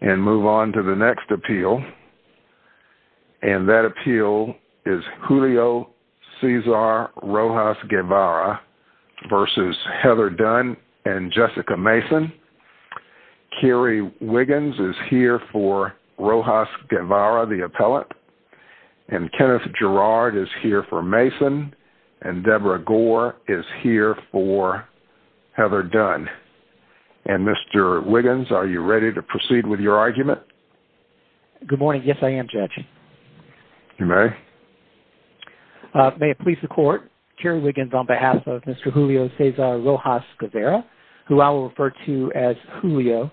And move on to the next appeal. And that appeal is Julio Cesar Rojas-Guevara v Heather Dunn and Jessica Mason. Kerry Wiggins is here for Rojas-Guevara, the appellate. And Kenneth Gerard is here for Mason and Deborah Gore is here for Heather Dunn. And Mr. Wiggins, are you ready to proceed with your argument? Good morning. Yes, I am, Judge. You may. May it please the court, Kerry Wiggins on behalf of Mr. Julio Cesar Rojas-Guevara, who I will refer to as Julio.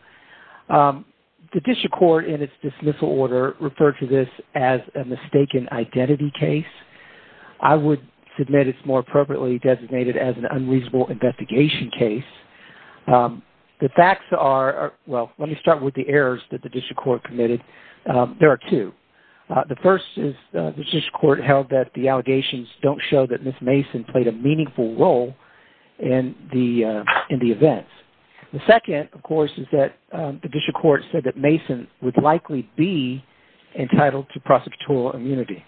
The district court in its dismissal order referred to this as a mistaken identity case. I would submit it's more appropriately designated as an unreasonable investigation case. The facts are, well, let me start with the errors that the district court committed. There are two. The first is the district court held that the allegations don't show that Ms. Mason played a meaningful role in the events. The second, of course, is that the district court said that Mason would likely be entitled to prosecutorial immunity.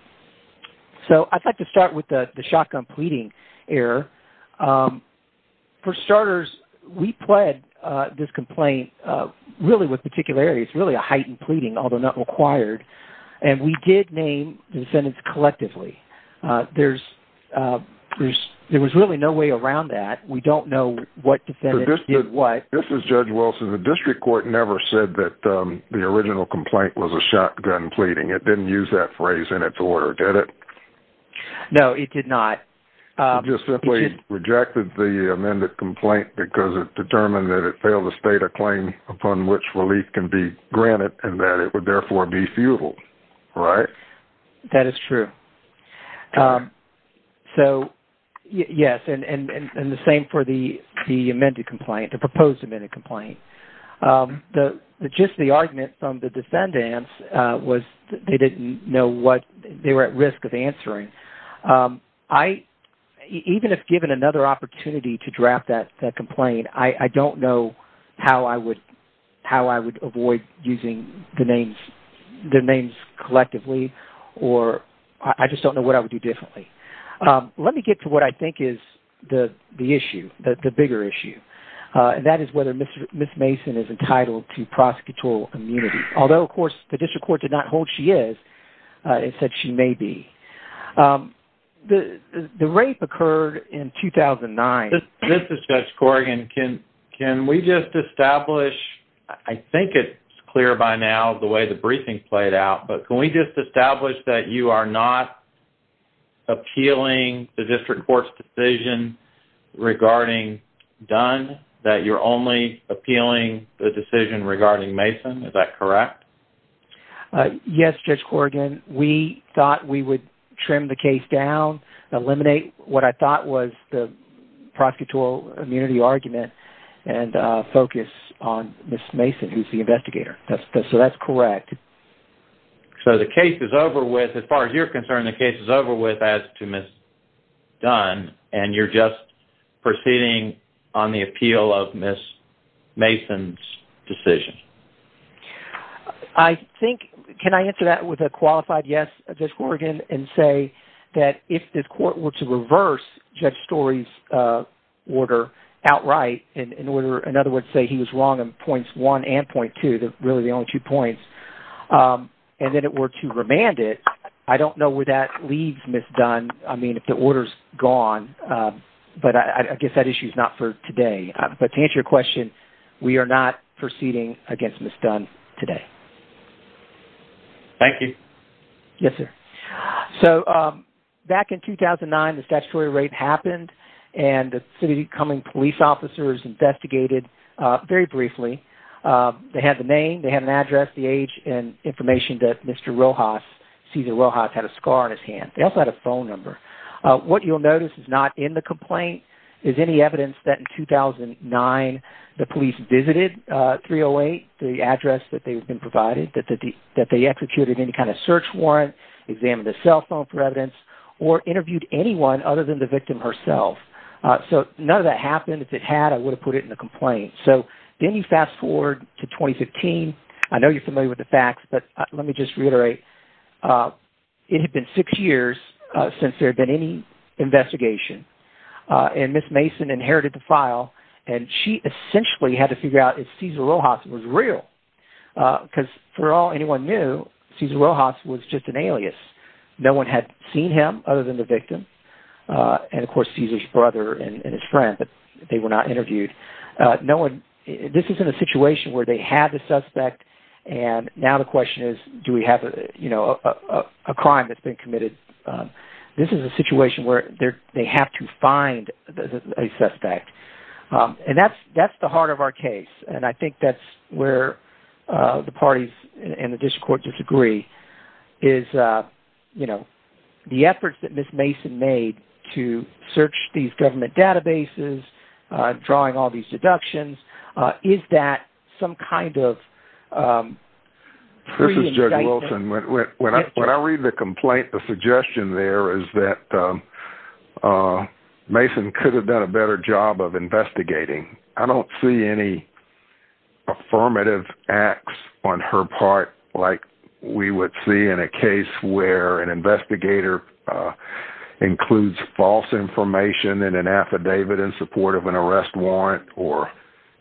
So I'd like to start with the shotgun pleading error. For starters, we pled this complaint really with particularity. It's really a heightened pleading, although not required. And we did name the defendants collectively. There was really no way around that. We don't know what defendants did what. This is Judge Wilson. The district court never said that the original complaint was a shotgun pleading. It didn't use that phrase in its order, did it? No, it did not. It just simply rejected the amended complaint because it determined that it failed to state a claim upon which relief can be granted and that it would therefore be futile, right? That is true. So yes, and the same for the amended complaint, the proposed amended complaint. Just the argument from the defendants was they didn't know what they were at risk of answering. I, even if given another opportunity to draft that complaint, I don't know how I would avoid using the names collectively, or I just don't know what I would do differently. Let me get to what I think is the issue, the bigger issue. And that is whether Ms. Mason is entitled to prosecutorial immunity. Although, of course, the district court did not hold she is, it said she may be. The rape occurred in 2009. This is Judge Corrigan. Can we just establish, I think it's clear by now the way the briefing played out, but can we just establish that you are not appealing the district court's decision regarding Dunn, that you're only appealing the decision regarding Mason, is that correct? Yes, Judge Corrigan. We thought we would trim the case down, eliminate what I thought was the prosecutorial immunity argument, and focus on Ms. Mason, who's the investigator. So that's correct. So the case is over with, as far as you're concerned, the case is over with as to Ms. Dunn, and you're just proceeding on the appeal of Ms. Mason's decision. I think, can I answer that with a qualified yes, Judge Corrigan, and say that if this court were to reverse Judge Story's order outright, in order, in other words, say he was wrong on points one and point two, really the only two points, and then it were to remand it, I don't know where that leaves Ms. Dunn, I mean, if the order's gone, but I guess that issue's not for today. But to answer your question, we are not proceeding against Ms. Dunn today. Thank you. Yes, sir. So back in 2009, the statutory raid happened, and the city's incoming police officers investigated very briefly. They had the name, they had an address, the age, and information that Mr. Rojas, Cesar Rojas, had a scar on his hand. They also had a phone number. What you'll notice is not in the complaint is any evidence that, in 2009, the police visited 308, the address that they had been provided, that they executed any kind of search warrant, examined the cell phone for evidence, or interviewed anyone other than the victim herself. So none of that happened. If it had, I would have put it in the complaint. So then you fast forward to 2015. I know you're familiar with the facts, but let me just reiterate, it had been six years since there had been any investigation, and Ms. Mason inherited the file, and she essentially had to figure out if Cesar Rojas was real, because for all anyone knew, Cesar Rojas was just an alias. No one had seen him other than the victim, and of course, Cesar's brother and his friend, but they were not interviewed. No one, this is in a situation where they had the suspect, and now the question is, do we have a crime that's been committed? This is a situation where they have to find a suspect, and that's the heart of our case, and I think that's where the parties and the district court disagree, is the efforts that Ms. Mason made to search these government databases, drawing all these deductions, is that some kind of pre-indictment? This is Judge Wilson. When I read the complaint, the suggestion there is that Mason could have done a better job of investigating. I don't see any affirmative acts on her part like we would see in a case where an investigator includes false information in an affidavit in support of an arrest warrant or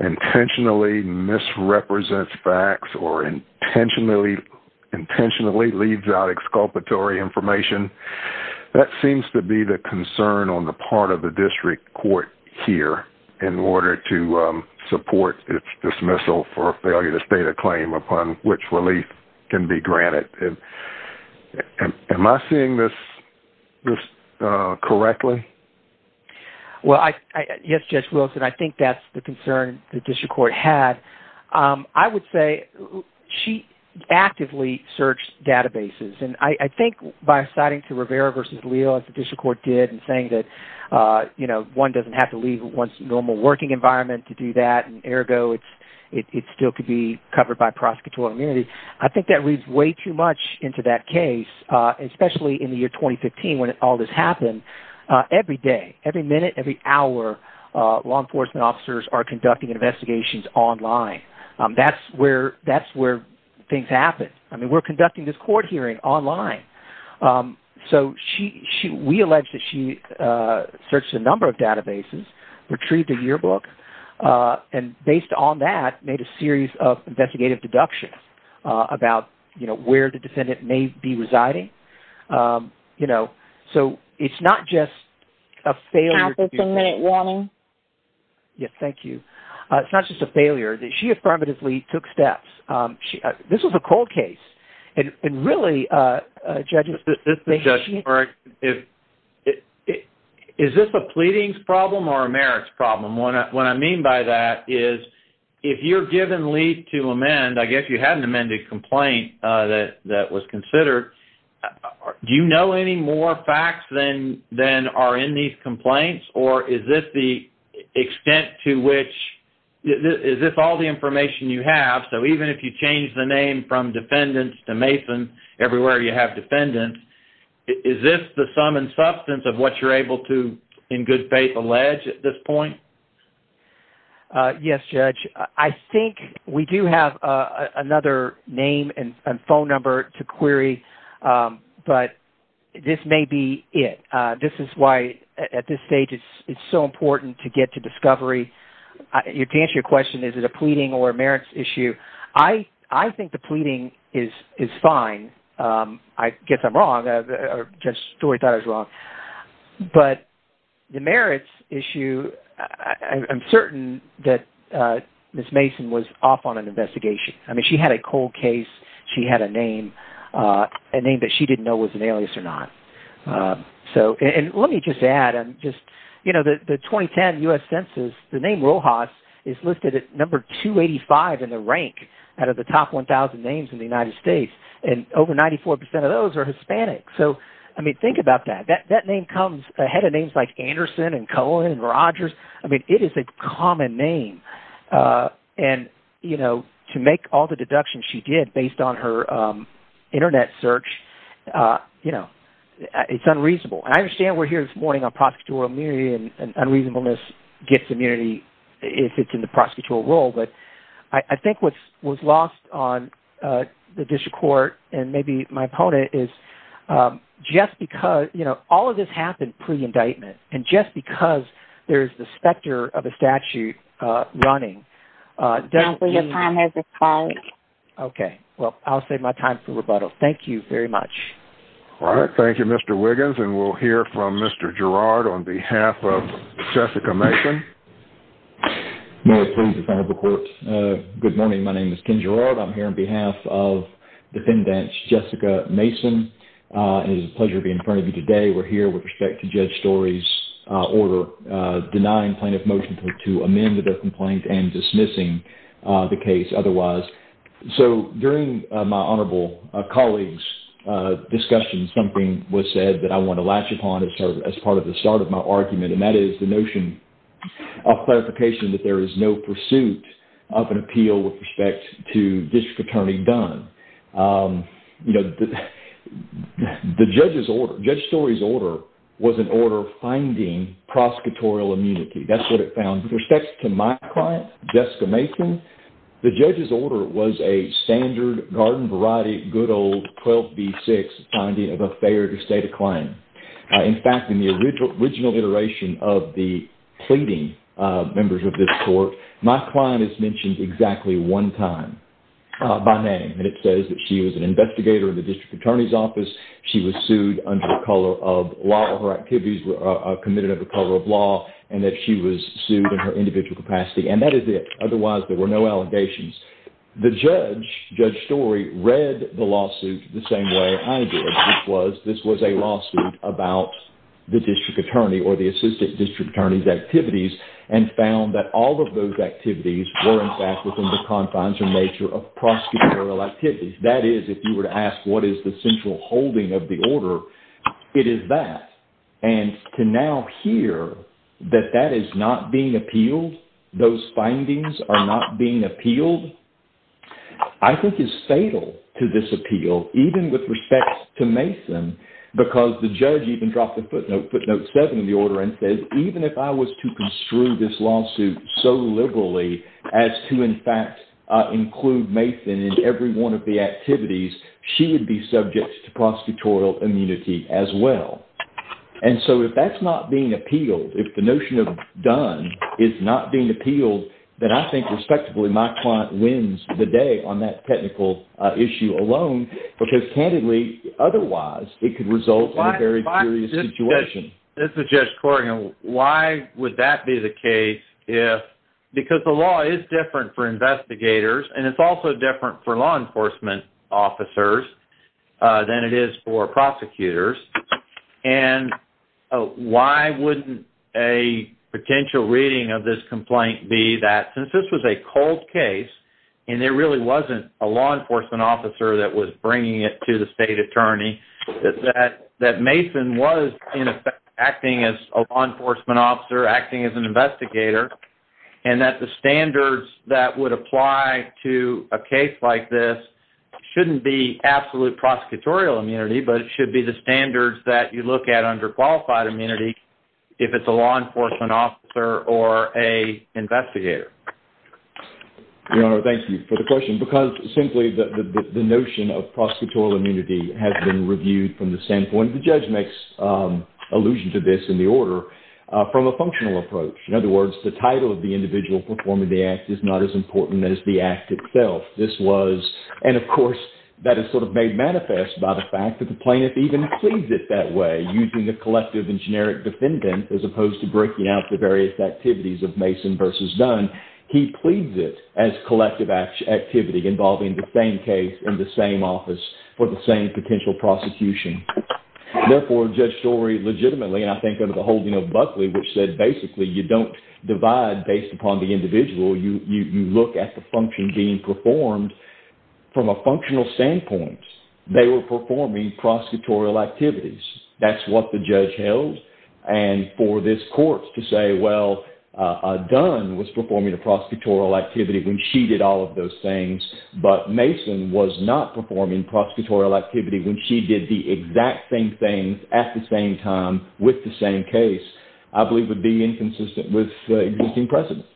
intentionally misrepresents facts or intentionally leaves out exculpatory information. That seems to be the concern on the part of the district court here in order to support its dismissal for failure to state a claim upon which relief can be granted. Am I seeing this correctly? Well, yes, Judge Wilson. I think that's the concern the district court had. I would say she actively searched databases, and I think by citing to Rivera v. Leal, as the district court did, and saying that one doesn't have to leave one's normal working environment to do that, and ergo it still could be covered by prosecutorial immunity, I think that reads way too much into that case, especially in the year 2015 when all this happened. Every day, every minute, every hour, law enforcement officers are conducting investigations online. That's where things happen. We're conducting this court hearing online. So we allege that she searched a number of databases, retrieved a yearbook, and based on that, made a series of investigative deductions about where the defendant may be residing. So it's not just a failure... Counsel, it's a minute warning. Yes, thank you. It's not just a failure. She affirmatively took steps. This was a cold case, and really, judges... Is this a pleadings problem or a merits problem? What I mean by that is, if you're given leave to amend, I guess you had an amended complaint that was considered, do you know any more facts than are in these complaints, or is this the extent to which... Is this all the information you have? So even if you change the name from defendants to Mason, everywhere you have defendants, is this the sum and substance of what you're able to, in good faith, allege at this point? Yes, Judge. I think we do have another name and phone number to query, but this may be it. This is why, at this stage, it's so important to get to discovery. To answer your question, is it a pleading or a merits issue, I think the pleading is fine. I guess I'm wrong. Judge Stewart thought I was wrong. But the merits issue, I'm certain that Ms. Mason was off on an investigation. She had a cold case. She had a name, a name that she didn't know was an alias or not. Let me just add, the 2010 US Census, the name Rojas is listed at number 285 in the rank out of the top 1,000 names in the United States, and over 94% of those are Hispanic. Think about that. That name comes ahead of names like Anderson and Cohen and Rojas. It is a common name. To make all the deductions she did based on her internet search, it's unreasonable. And I understand we're here this morning on prosecutorial immunity, and unreasonableness gets immunity if it's in the prosecutorial role. I think what was lost on the district court and maybe my opponent is, just because, you know, all of this happened pre-indictment, and just because there's the specter of a statute running. Okay. Well, I'll save my time for rebuttal. Thank you very much. All right. Thank you, Mr. Wiggins. And we'll hear from Mr. Girard on behalf of Jessica Mason. Mayor, please, in front of the court. Good morning. My name is Ken Girard. I'm here on behalf of Defendant Jessica Mason. It is a pleasure to be in front of you today. We're here with respect to Judge Story's order denying plaintiff motion to amend the death complaint and dismissing the case otherwise. So during my honorable colleague's discussion, something was said that I want to latch upon as part of the start of my argument. And that is the notion of clarification that there is no pursuit of an appeal with respect to District Attorney Dunn. You know, the judge's order, Judge Story's order, was an order finding prosecutorial immunity. That's what it found. With respect to my client, Jessica Mason, the judge's order was a standard garden variety, good old 12B6 finding of a failure to state a claim. In fact, in the original iteration of the pleading members of this court, my client is mentioned exactly one time by name. And it says that she was an investigator in the District Attorney's office. She was sued under the color of law. Her activities were committed under the color of law. And that she was sued in her individual capacity. And that is it. Otherwise, there were no allegations. The judge, Judge Story, read the lawsuit the same way I did, which was this was a lawsuit about the District Attorney or the Assistant District Attorney's activities and found that all of those activities were, in fact, within the confines or nature of prosecutorial activities. That is, if you were to ask what is the central holding of the order, it is that. And to now hear that that is not being appealed, those findings are not being appealed, I think is fatal to this appeal, even with respect to Mason, because the judge even dropped a footnote, footnote seven, in the order and says, even if I was to construe this lawsuit so liberally as to, in fact, include Mason in every one of the activities, she would be subject to prosecutorial immunity as well. And so if that's not being appealed, if the notion of done is not being appealed, then I think, respectively, my client wins the day on that technical issue alone, because candidly, otherwise, it could result in a very serious situation. This is Judge Corrigan. Why would that be the case if, because the law is different for investigators, and it's also different for law enforcement officers than it is for prosecutors. And why wouldn't a potential reading of this complaint be that, since this was a cold case, and there really wasn't a law enforcement officer that was bringing it to the state attorney, that Mason was, in effect, acting as a law enforcement officer, acting as an investigator, and that the standards that would apply to a case like this shouldn't be absolute prosecutorial immunity, but it should be the standards that you look at under qualified immunity if it's a law enforcement officer or a investigator? Your Honor, thank you for the question, because simply the notion of prosecutorial immunity has been reviewed from the standpoint, the judge makes allusion to this in the order, from a functional approach. In other words, the title of the individual performing the act is not as important as the act itself. This was, and of course, that is sort of made manifest by the fact that the plaintiff even pleads it that way, using the collective and generic defendant as opposed to breaking out the various activities of Mason versus Dunn. He pleads it as collective activity involving the same case in the same office for the same potential prosecution. Therefore, Judge Story legitimately, and I think under the holding of Buckley, which said basically you don't divide based upon the individual, you look at the function being performed, from a functional standpoint, they were performing prosecutorial activities. That's what the judge held. And for this court to say, well, Dunn was performing a prosecutorial activity when she did all of those things, but Mason was not performing prosecutorial activity when she did the exact same thing at the same time with the same case, I believe would be inconsistent with the existing precedent.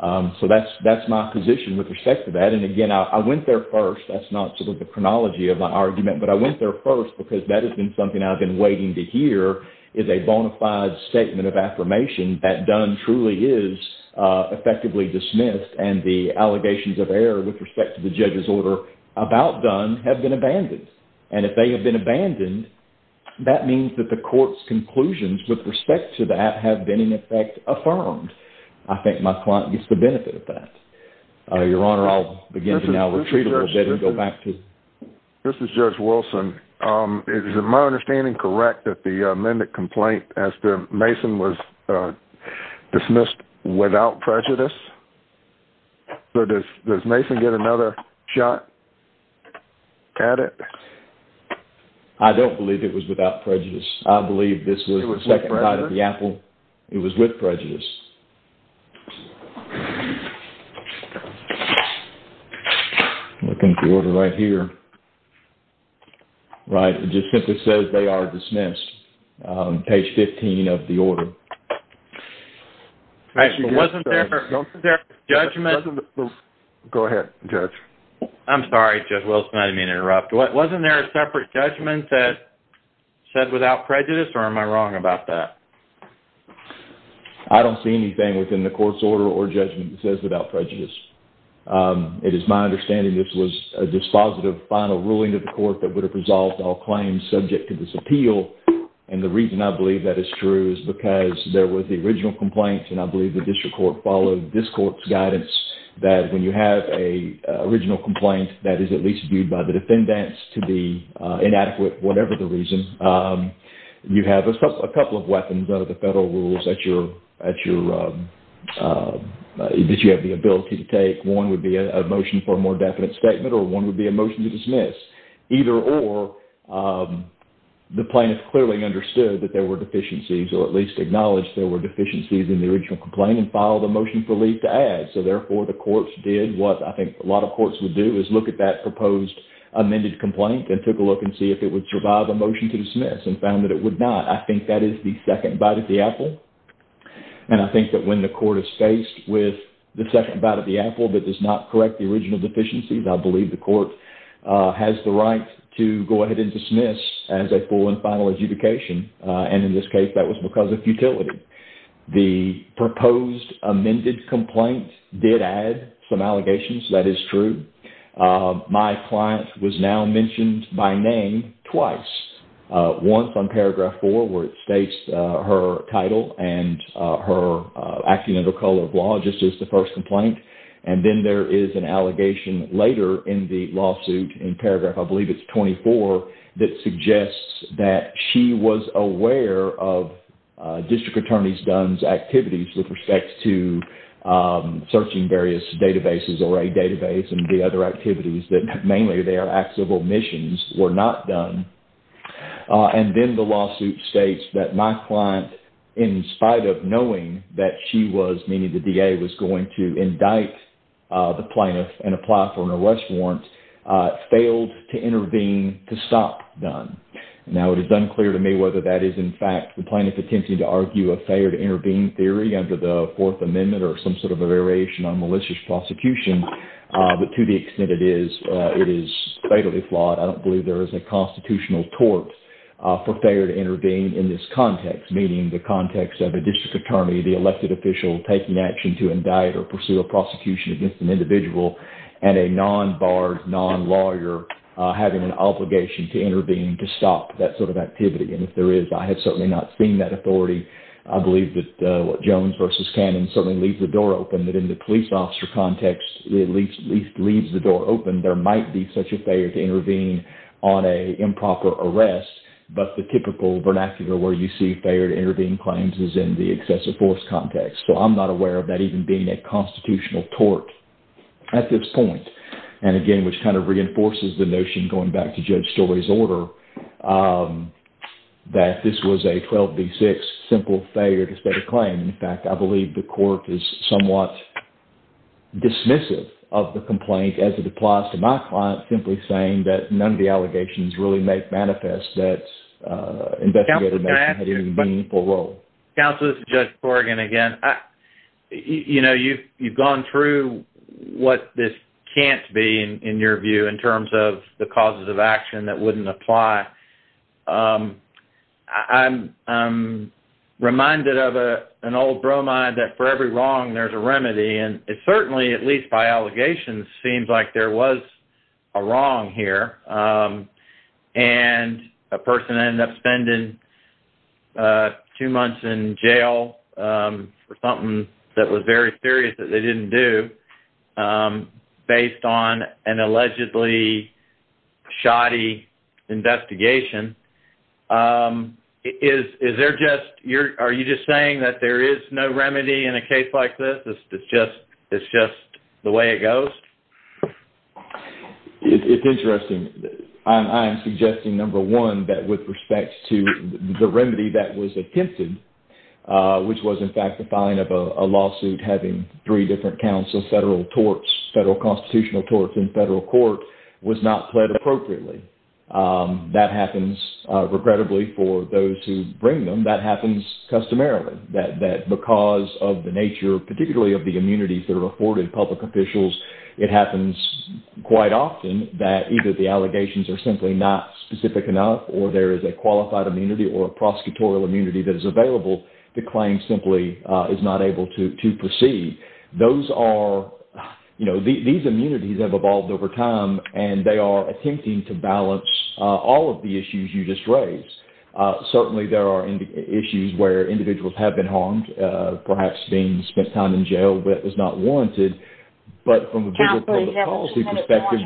So that's my position with respect to that. And again, I went there first. That's not sort of the chronology of my argument, but I went there first because that has been something I've been waiting to hear is a bona fide statement of affirmation that Dunn truly is effectively dismissed and the allegations of error with respect to the judge's order about Dunn have been abandoned. And if they have been abandoned, that means that the court's conclusions with respect to that have been, in effect, affirmed. I think my client gets the benefit of that. Your Honor, I'll begin to now retreat a little bit and go back to... This is Judge Wilson. Is my understanding correct that the amended complaint as to Mason was dismissed without prejudice? So does Mason get another shot at it? I don't believe it was without prejudice. I believe this was the second night at the Apple. It was with prejudice. I'm looking at the order right here. Right. It just simply says they are dismissed. Page 15 of the order. All right. So wasn't there a separate judgment? Go ahead, Judge. I'm sorry, Judge Wilson. I didn't mean to interrupt. Wasn't there a separate judgment that said without prejudice or am I wrong about that? I don't see anything within the court's order or judgment that says without prejudice. It is my understanding this was a dispositive final ruling of the court that would have resolved all claims subject to this appeal. And the reason I believe that is true is because there was the original complaint, and I believe the district court followed this court's guidance that when you have a original complaint that is at least viewed by the defendants to be inadequate, whatever the reason, you have a couple of weapons under the federal rules that you have the ability to take. One would be a motion for a more definite statement or one would be a motion to dismiss. Either or, the plaintiff clearly understood that there were deficiencies or at least acknowledged there were deficiencies in the original complaint and filed a motion for leave to add. So therefore, the courts did what I think a lot of courts would do is look at that proposed amended complaint and took a look and see if it would survive a motion to dismiss and found that it would not. I think that is the second bite of the apple. And I think that when the court is faced with the second bite of the apple that does not correct the original deficiencies, I believe the court has the right to go ahead and dismiss as a full and final adjudication. And in this case, that was because of futility. The proposed amended complaint did add some allegations. That is true. My client was now mentioned by name twice. Once on Paragraph 4 where it states her title and her acting under color of law just as the first complaint. And then there is an allegation later in the lawsuit in Paragraph, I believe it is 24, that suggests that she was aware of District Attorney Dunn's activities with respect to searching various databases or a database and the other activities that mainly they were not done. And then the lawsuit states that my client, in spite of knowing that she was, meaning the DA was going to indict the plaintiff and apply for an arrest warrant, failed to intervene to stop Dunn. Now, it is unclear to me whether that is, in fact, the plaintiff attempting to argue a failed intervene theory under the Fourth Amendment or some sort of a variation on malicious prosecution, but to the extent it is, it is fatally flawed. I don't believe there is a constitutional tort for failure to intervene in this context, meaning the context of a District Attorney, the elected official, taking action to indict or pursue a prosecution against an individual and a non-barred, non-lawyer having an obligation to intervene to stop that sort of activity. And if there is, I have certainly not seen that authority. I believe that what Jones v. Cannon certainly leaves the door open that in the police officer context, at least leaves the door open, there might be such a failure to intervene on an improper arrest, but the typical vernacular where you see failure to intervene claims is in the excessive force context. So I'm not aware of that even being a constitutional tort at this point. And again, which kind of reinforces the notion, going back to Judge Story's order, that this was a 12 v. 6 simple failure to state a claim. In fact, I believe the court is somewhat dismissive of the complaint as it applies to my client, simply saying that none of the allegations really make manifest that investigator may have had any meaningful role. Counsel, this is Judge Corrigan again. You know, you've gone through what this can't be, in your view, in terms of the causes of action that wouldn't apply. I'm reminded of an old bromide that for every wrong, there's a remedy. And it certainly, at least by allegations, seems like there was a wrong here, and a person ended up spending two months in jail for something that was very serious that they didn't do based on an allegedly shoddy investigation. Are you just saying that there is no remedy in a case like this? It's just the way it goes? It's interesting. I'm suggesting, number one, that with respect to the remedy that was attempted, which was, in fact, the fine of a lawsuit having three different counts of federal torts, federal constitutional torts in federal court, was not pled appropriately. That happens, regrettably, for those who bring them. That happens customarily, that because of the nature, particularly of the immunities that are afforded public officials, it happens quite often that either the allegations are simply not specific enough, or there is a qualified immunity or a prosecutorial immunity that is available, the claim simply is not able to proceed. These immunities have evolved over time, and they are attempting to balance all of the issues you just raised. Certainly, there are issues where individuals have been harmed, perhaps being spent time in jail, but it was not warranted. But from a bigger public policy perspective,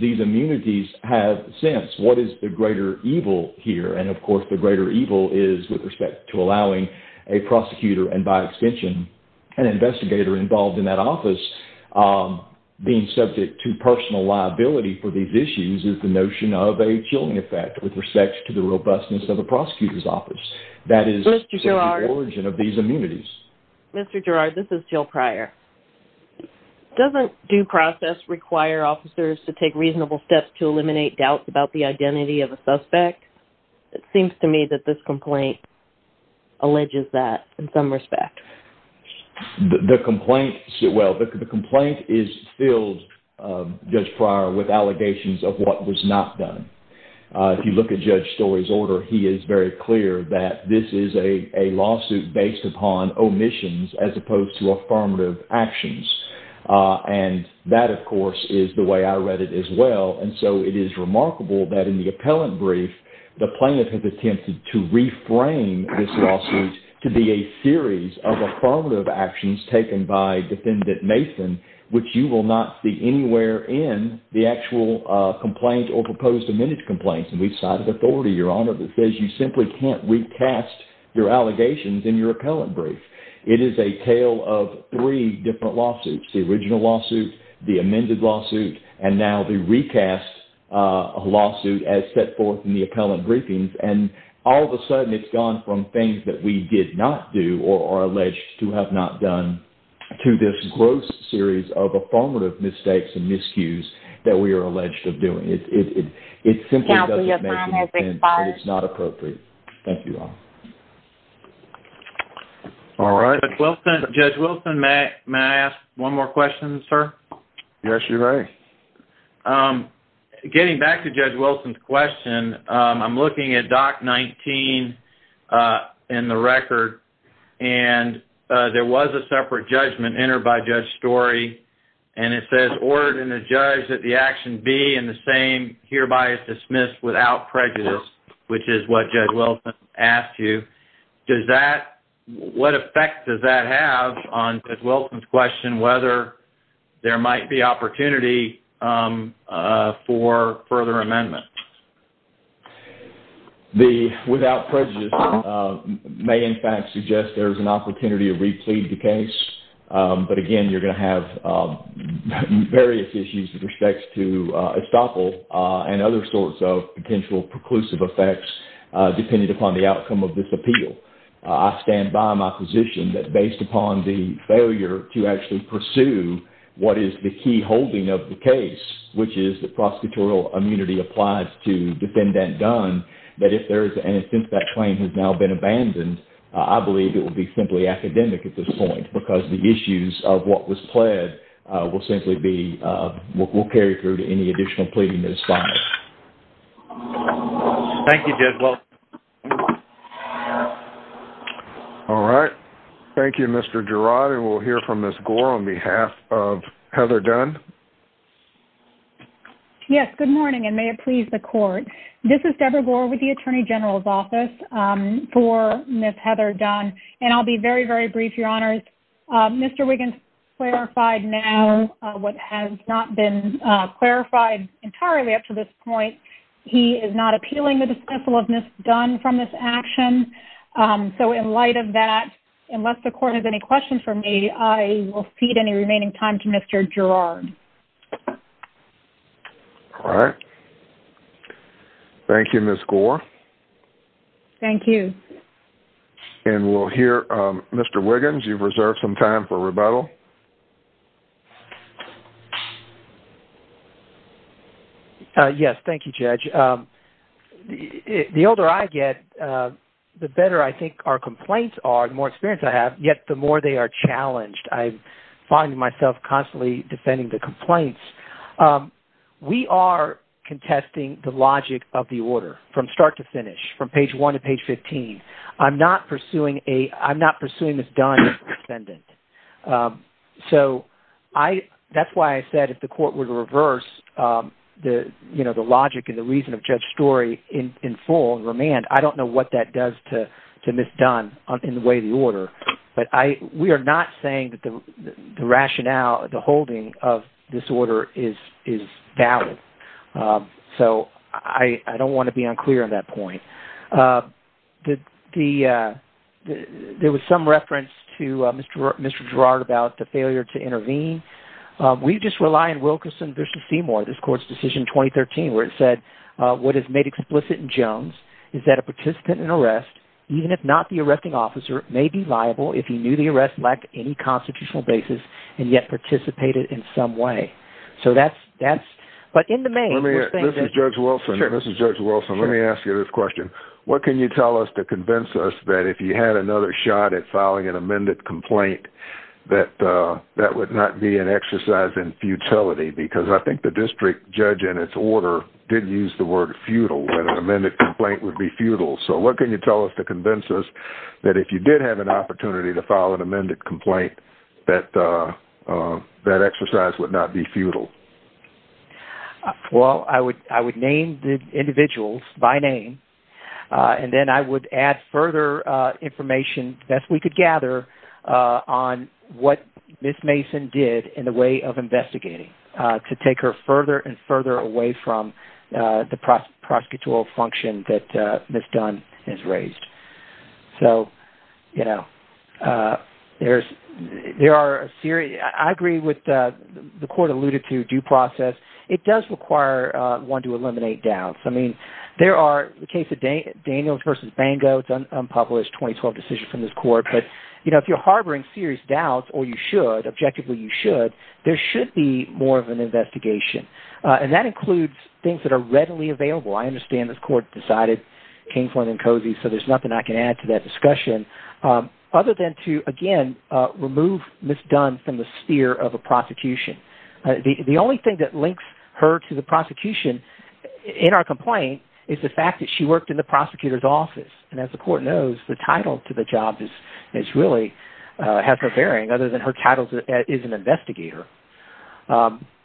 these immunities have since. What is the greater evil here? And, of course, the greater evil is with respect to allowing a prosecutor, and by extension, an investigator involved in that office, being subject to personal liability for these issues is the notion of a chilling effect with respect to the robustness of a prosecutor's office. That is the origin of these immunities. Mr. Girard, this is Jill Pryor. Doesn't due process require officers to take reasonable steps to eliminate doubts about the identity of a suspect? It seems to me that this complaint alleges that in some respect. The complaint is filled, Judge Pryor, with allegations of what was not done. If you look at Judge Story's order, he is very clear that this is a lawsuit based upon omissions as opposed to affirmative actions. And that, of course, is the way I read it as well. And so it is remarkable that in the appellant brief, the plaintiff has attempted to reframe this lawsuit to be a series of affirmative actions taken by Defendant Mason, which you will not see anywhere in the actual complaint or proposed amended complaints. And we've cited authority, Your Honor, that says you simply can't recast your allegations in your appellant brief. It is a tale of three different lawsuits. The original lawsuit, the amended lawsuit, and now the recast lawsuit as set forth in the appellant briefings. And all of a sudden, it's gone from things that we did not do or are alleged to have not done to this gross series of affirmative mistakes and miscues that we are alleged of doing. It simply doesn't make sense and it's not appropriate. Thank you, Your Honor. All right. Judge Wilson, may I ask one more question, sir? Yes, you may. Getting back to Judge Wilson's question, I'm looking at Doc 19 in the record. And there was a separate judgment entered by Judge Story. And it says, ordered in the judge that the action be in the same, hereby is dismissed without prejudice, which is what Judge Wilson asked you. Does that, what effect does that have on Judge Wilson's question whether there might be opportunity for further amendments? The without prejudice may, in fact, suggest there's an opportunity to replead the case. But again, you're going to have various issues with respects to estoppel and other sorts of potential preclusive effects depending upon the outcome of this appeal. I stand by my position that based upon the failure to actually pursue what is the key holding of the case, which is that prosecutorial immunity applies to defendant done, that if there is, and since that claim has now been abandoned, I believe it will be simply academic at this point because the issues of what was pled will simply be, will carry through to any additional pleading that is filed. Thank you, Judge Wilson. All right. Thank you, Mr. Girard. And we'll hear from Ms. Gore on behalf of Heather Dunn. Yes, good morning, and may it please the court. This is Deborah Gore with the Attorney General's Office for Ms. Heather Dunn. And I'll be very, very brief, Your Honors. Mr. Wiggins clarified now what has not been clarified entirely up to this point. He is not appealing the dismissal of Ms. Dunn from this action. So in light of that, unless the court has any questions for me, I will cede any remaining time to Mr. Girard. All right. Thank you, Ms. Gore. Thank you. And we'll hear Mr. Wiggins. You've reserved some time for rebuttal. Yes, thank you, Judge. The older I get, the better I think our complaints are, the more experience I have, yet the more they are challenged. I find myself constantly defending the complaints. We are contesting the logic of the order from start to finish, from page 1 to page 15. I'm not pursuing a-I'm not pursuing Ms. Dunn as a defendant. Um, so I-that's why I said if the court were to reverse, um, the-you know, the logic and the reason of Judge Story in-in full and remand, I don't know what that does to-to Ms. Dunn in the way of the order. But I-we are not saying that the rationale, the holding of this order is-is valid. So I-I don't want to be unclear on that point. Uh, the-the, uh, the-there was some reference to, uh, Mr. Gerard about the failure to intervene. Um, we just rely on Wilkerson v. Seymour, this court's decision in 2013, where it said, uh, what is made explicit in Jones is that a participant in arrest, even if not the arresting officer, may be liable if he knew the arrest lacked any constitutional basis and yet participated in some way. So that's-that's-but in the main- Let me-this is Judge Wilson. This is Judge Wilson. Let me ask you this question. What can you tell us to convince us that if you had another shot at filing an amended complaint, that, uh, that would not be an exercise in futility? Because I think the district judge in its order did use the word futile, that an amended complaint would be futile. So what can you tell us to convince us that if you did have an opportunity to file an amended complaint, that, uh, uh, that exercise would not be futile? Well, I would-I would name the individuals by name, uh, and then I would add further, uh, information, the best we could gather, uh, on what Ms. Mason did in the way of investigating, uh, to take her further and further away from, uh, the prosecutorial function that, uh, Ms. Dunn has raised. So, you know, uh, there's-there are a series-I agree with, uh, the court alluded to, too, it does require, uh, one to eliminate doubts. I mean, there are-in the case of Dan-Daniels v. Bango, it's an unpublished 2012 decision from this court. But, you know, if you're harboring serious doubts, or you should, objectively you should, there should be more of an investigation, uh, and that includes things that are readily available. I understand this court decided, came for them cozy, so there's nothing I can add to that discussion, um, other than to, again, uh, remove Ms. Dunn from the sphere of a prosecution. The only thing that links her to the prosecution in our complaint is the fact that she worked in the prosecutor's office. And as the court knows, the title to the job is-is really, uh, has no bearing other than her title is an investigator.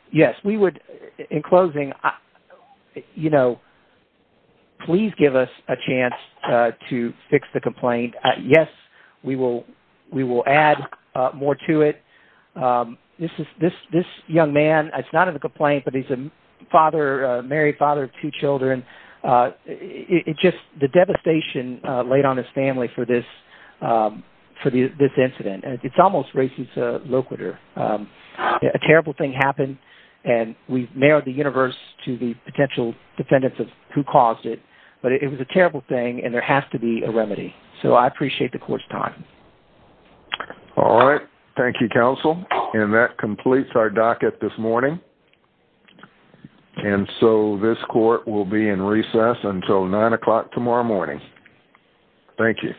Yes, we would-in closing, you know, please give us a chance, uh, to fix the complaint. Yes, we will-we will add, uh, more to it. Um, this is-this-this young man, it's not in the complaint, but he's a father, uh, married father of two children. Uh, it-it just-the devastation, uh, laid on his family for this, um, for the-this incident. And it's almost racist, uh, loquitur. Um, a terrible thing happened, and we've narrowed the universe to the potential defendants of who caused it. But it was a terrible thing, and there has to be a remedy. So I appreciate the court's time. All right. Thank you, counsel. And that completes our docket this morning. And so this court will be in recess until 9 o'clock tomorrow morning. Thank you.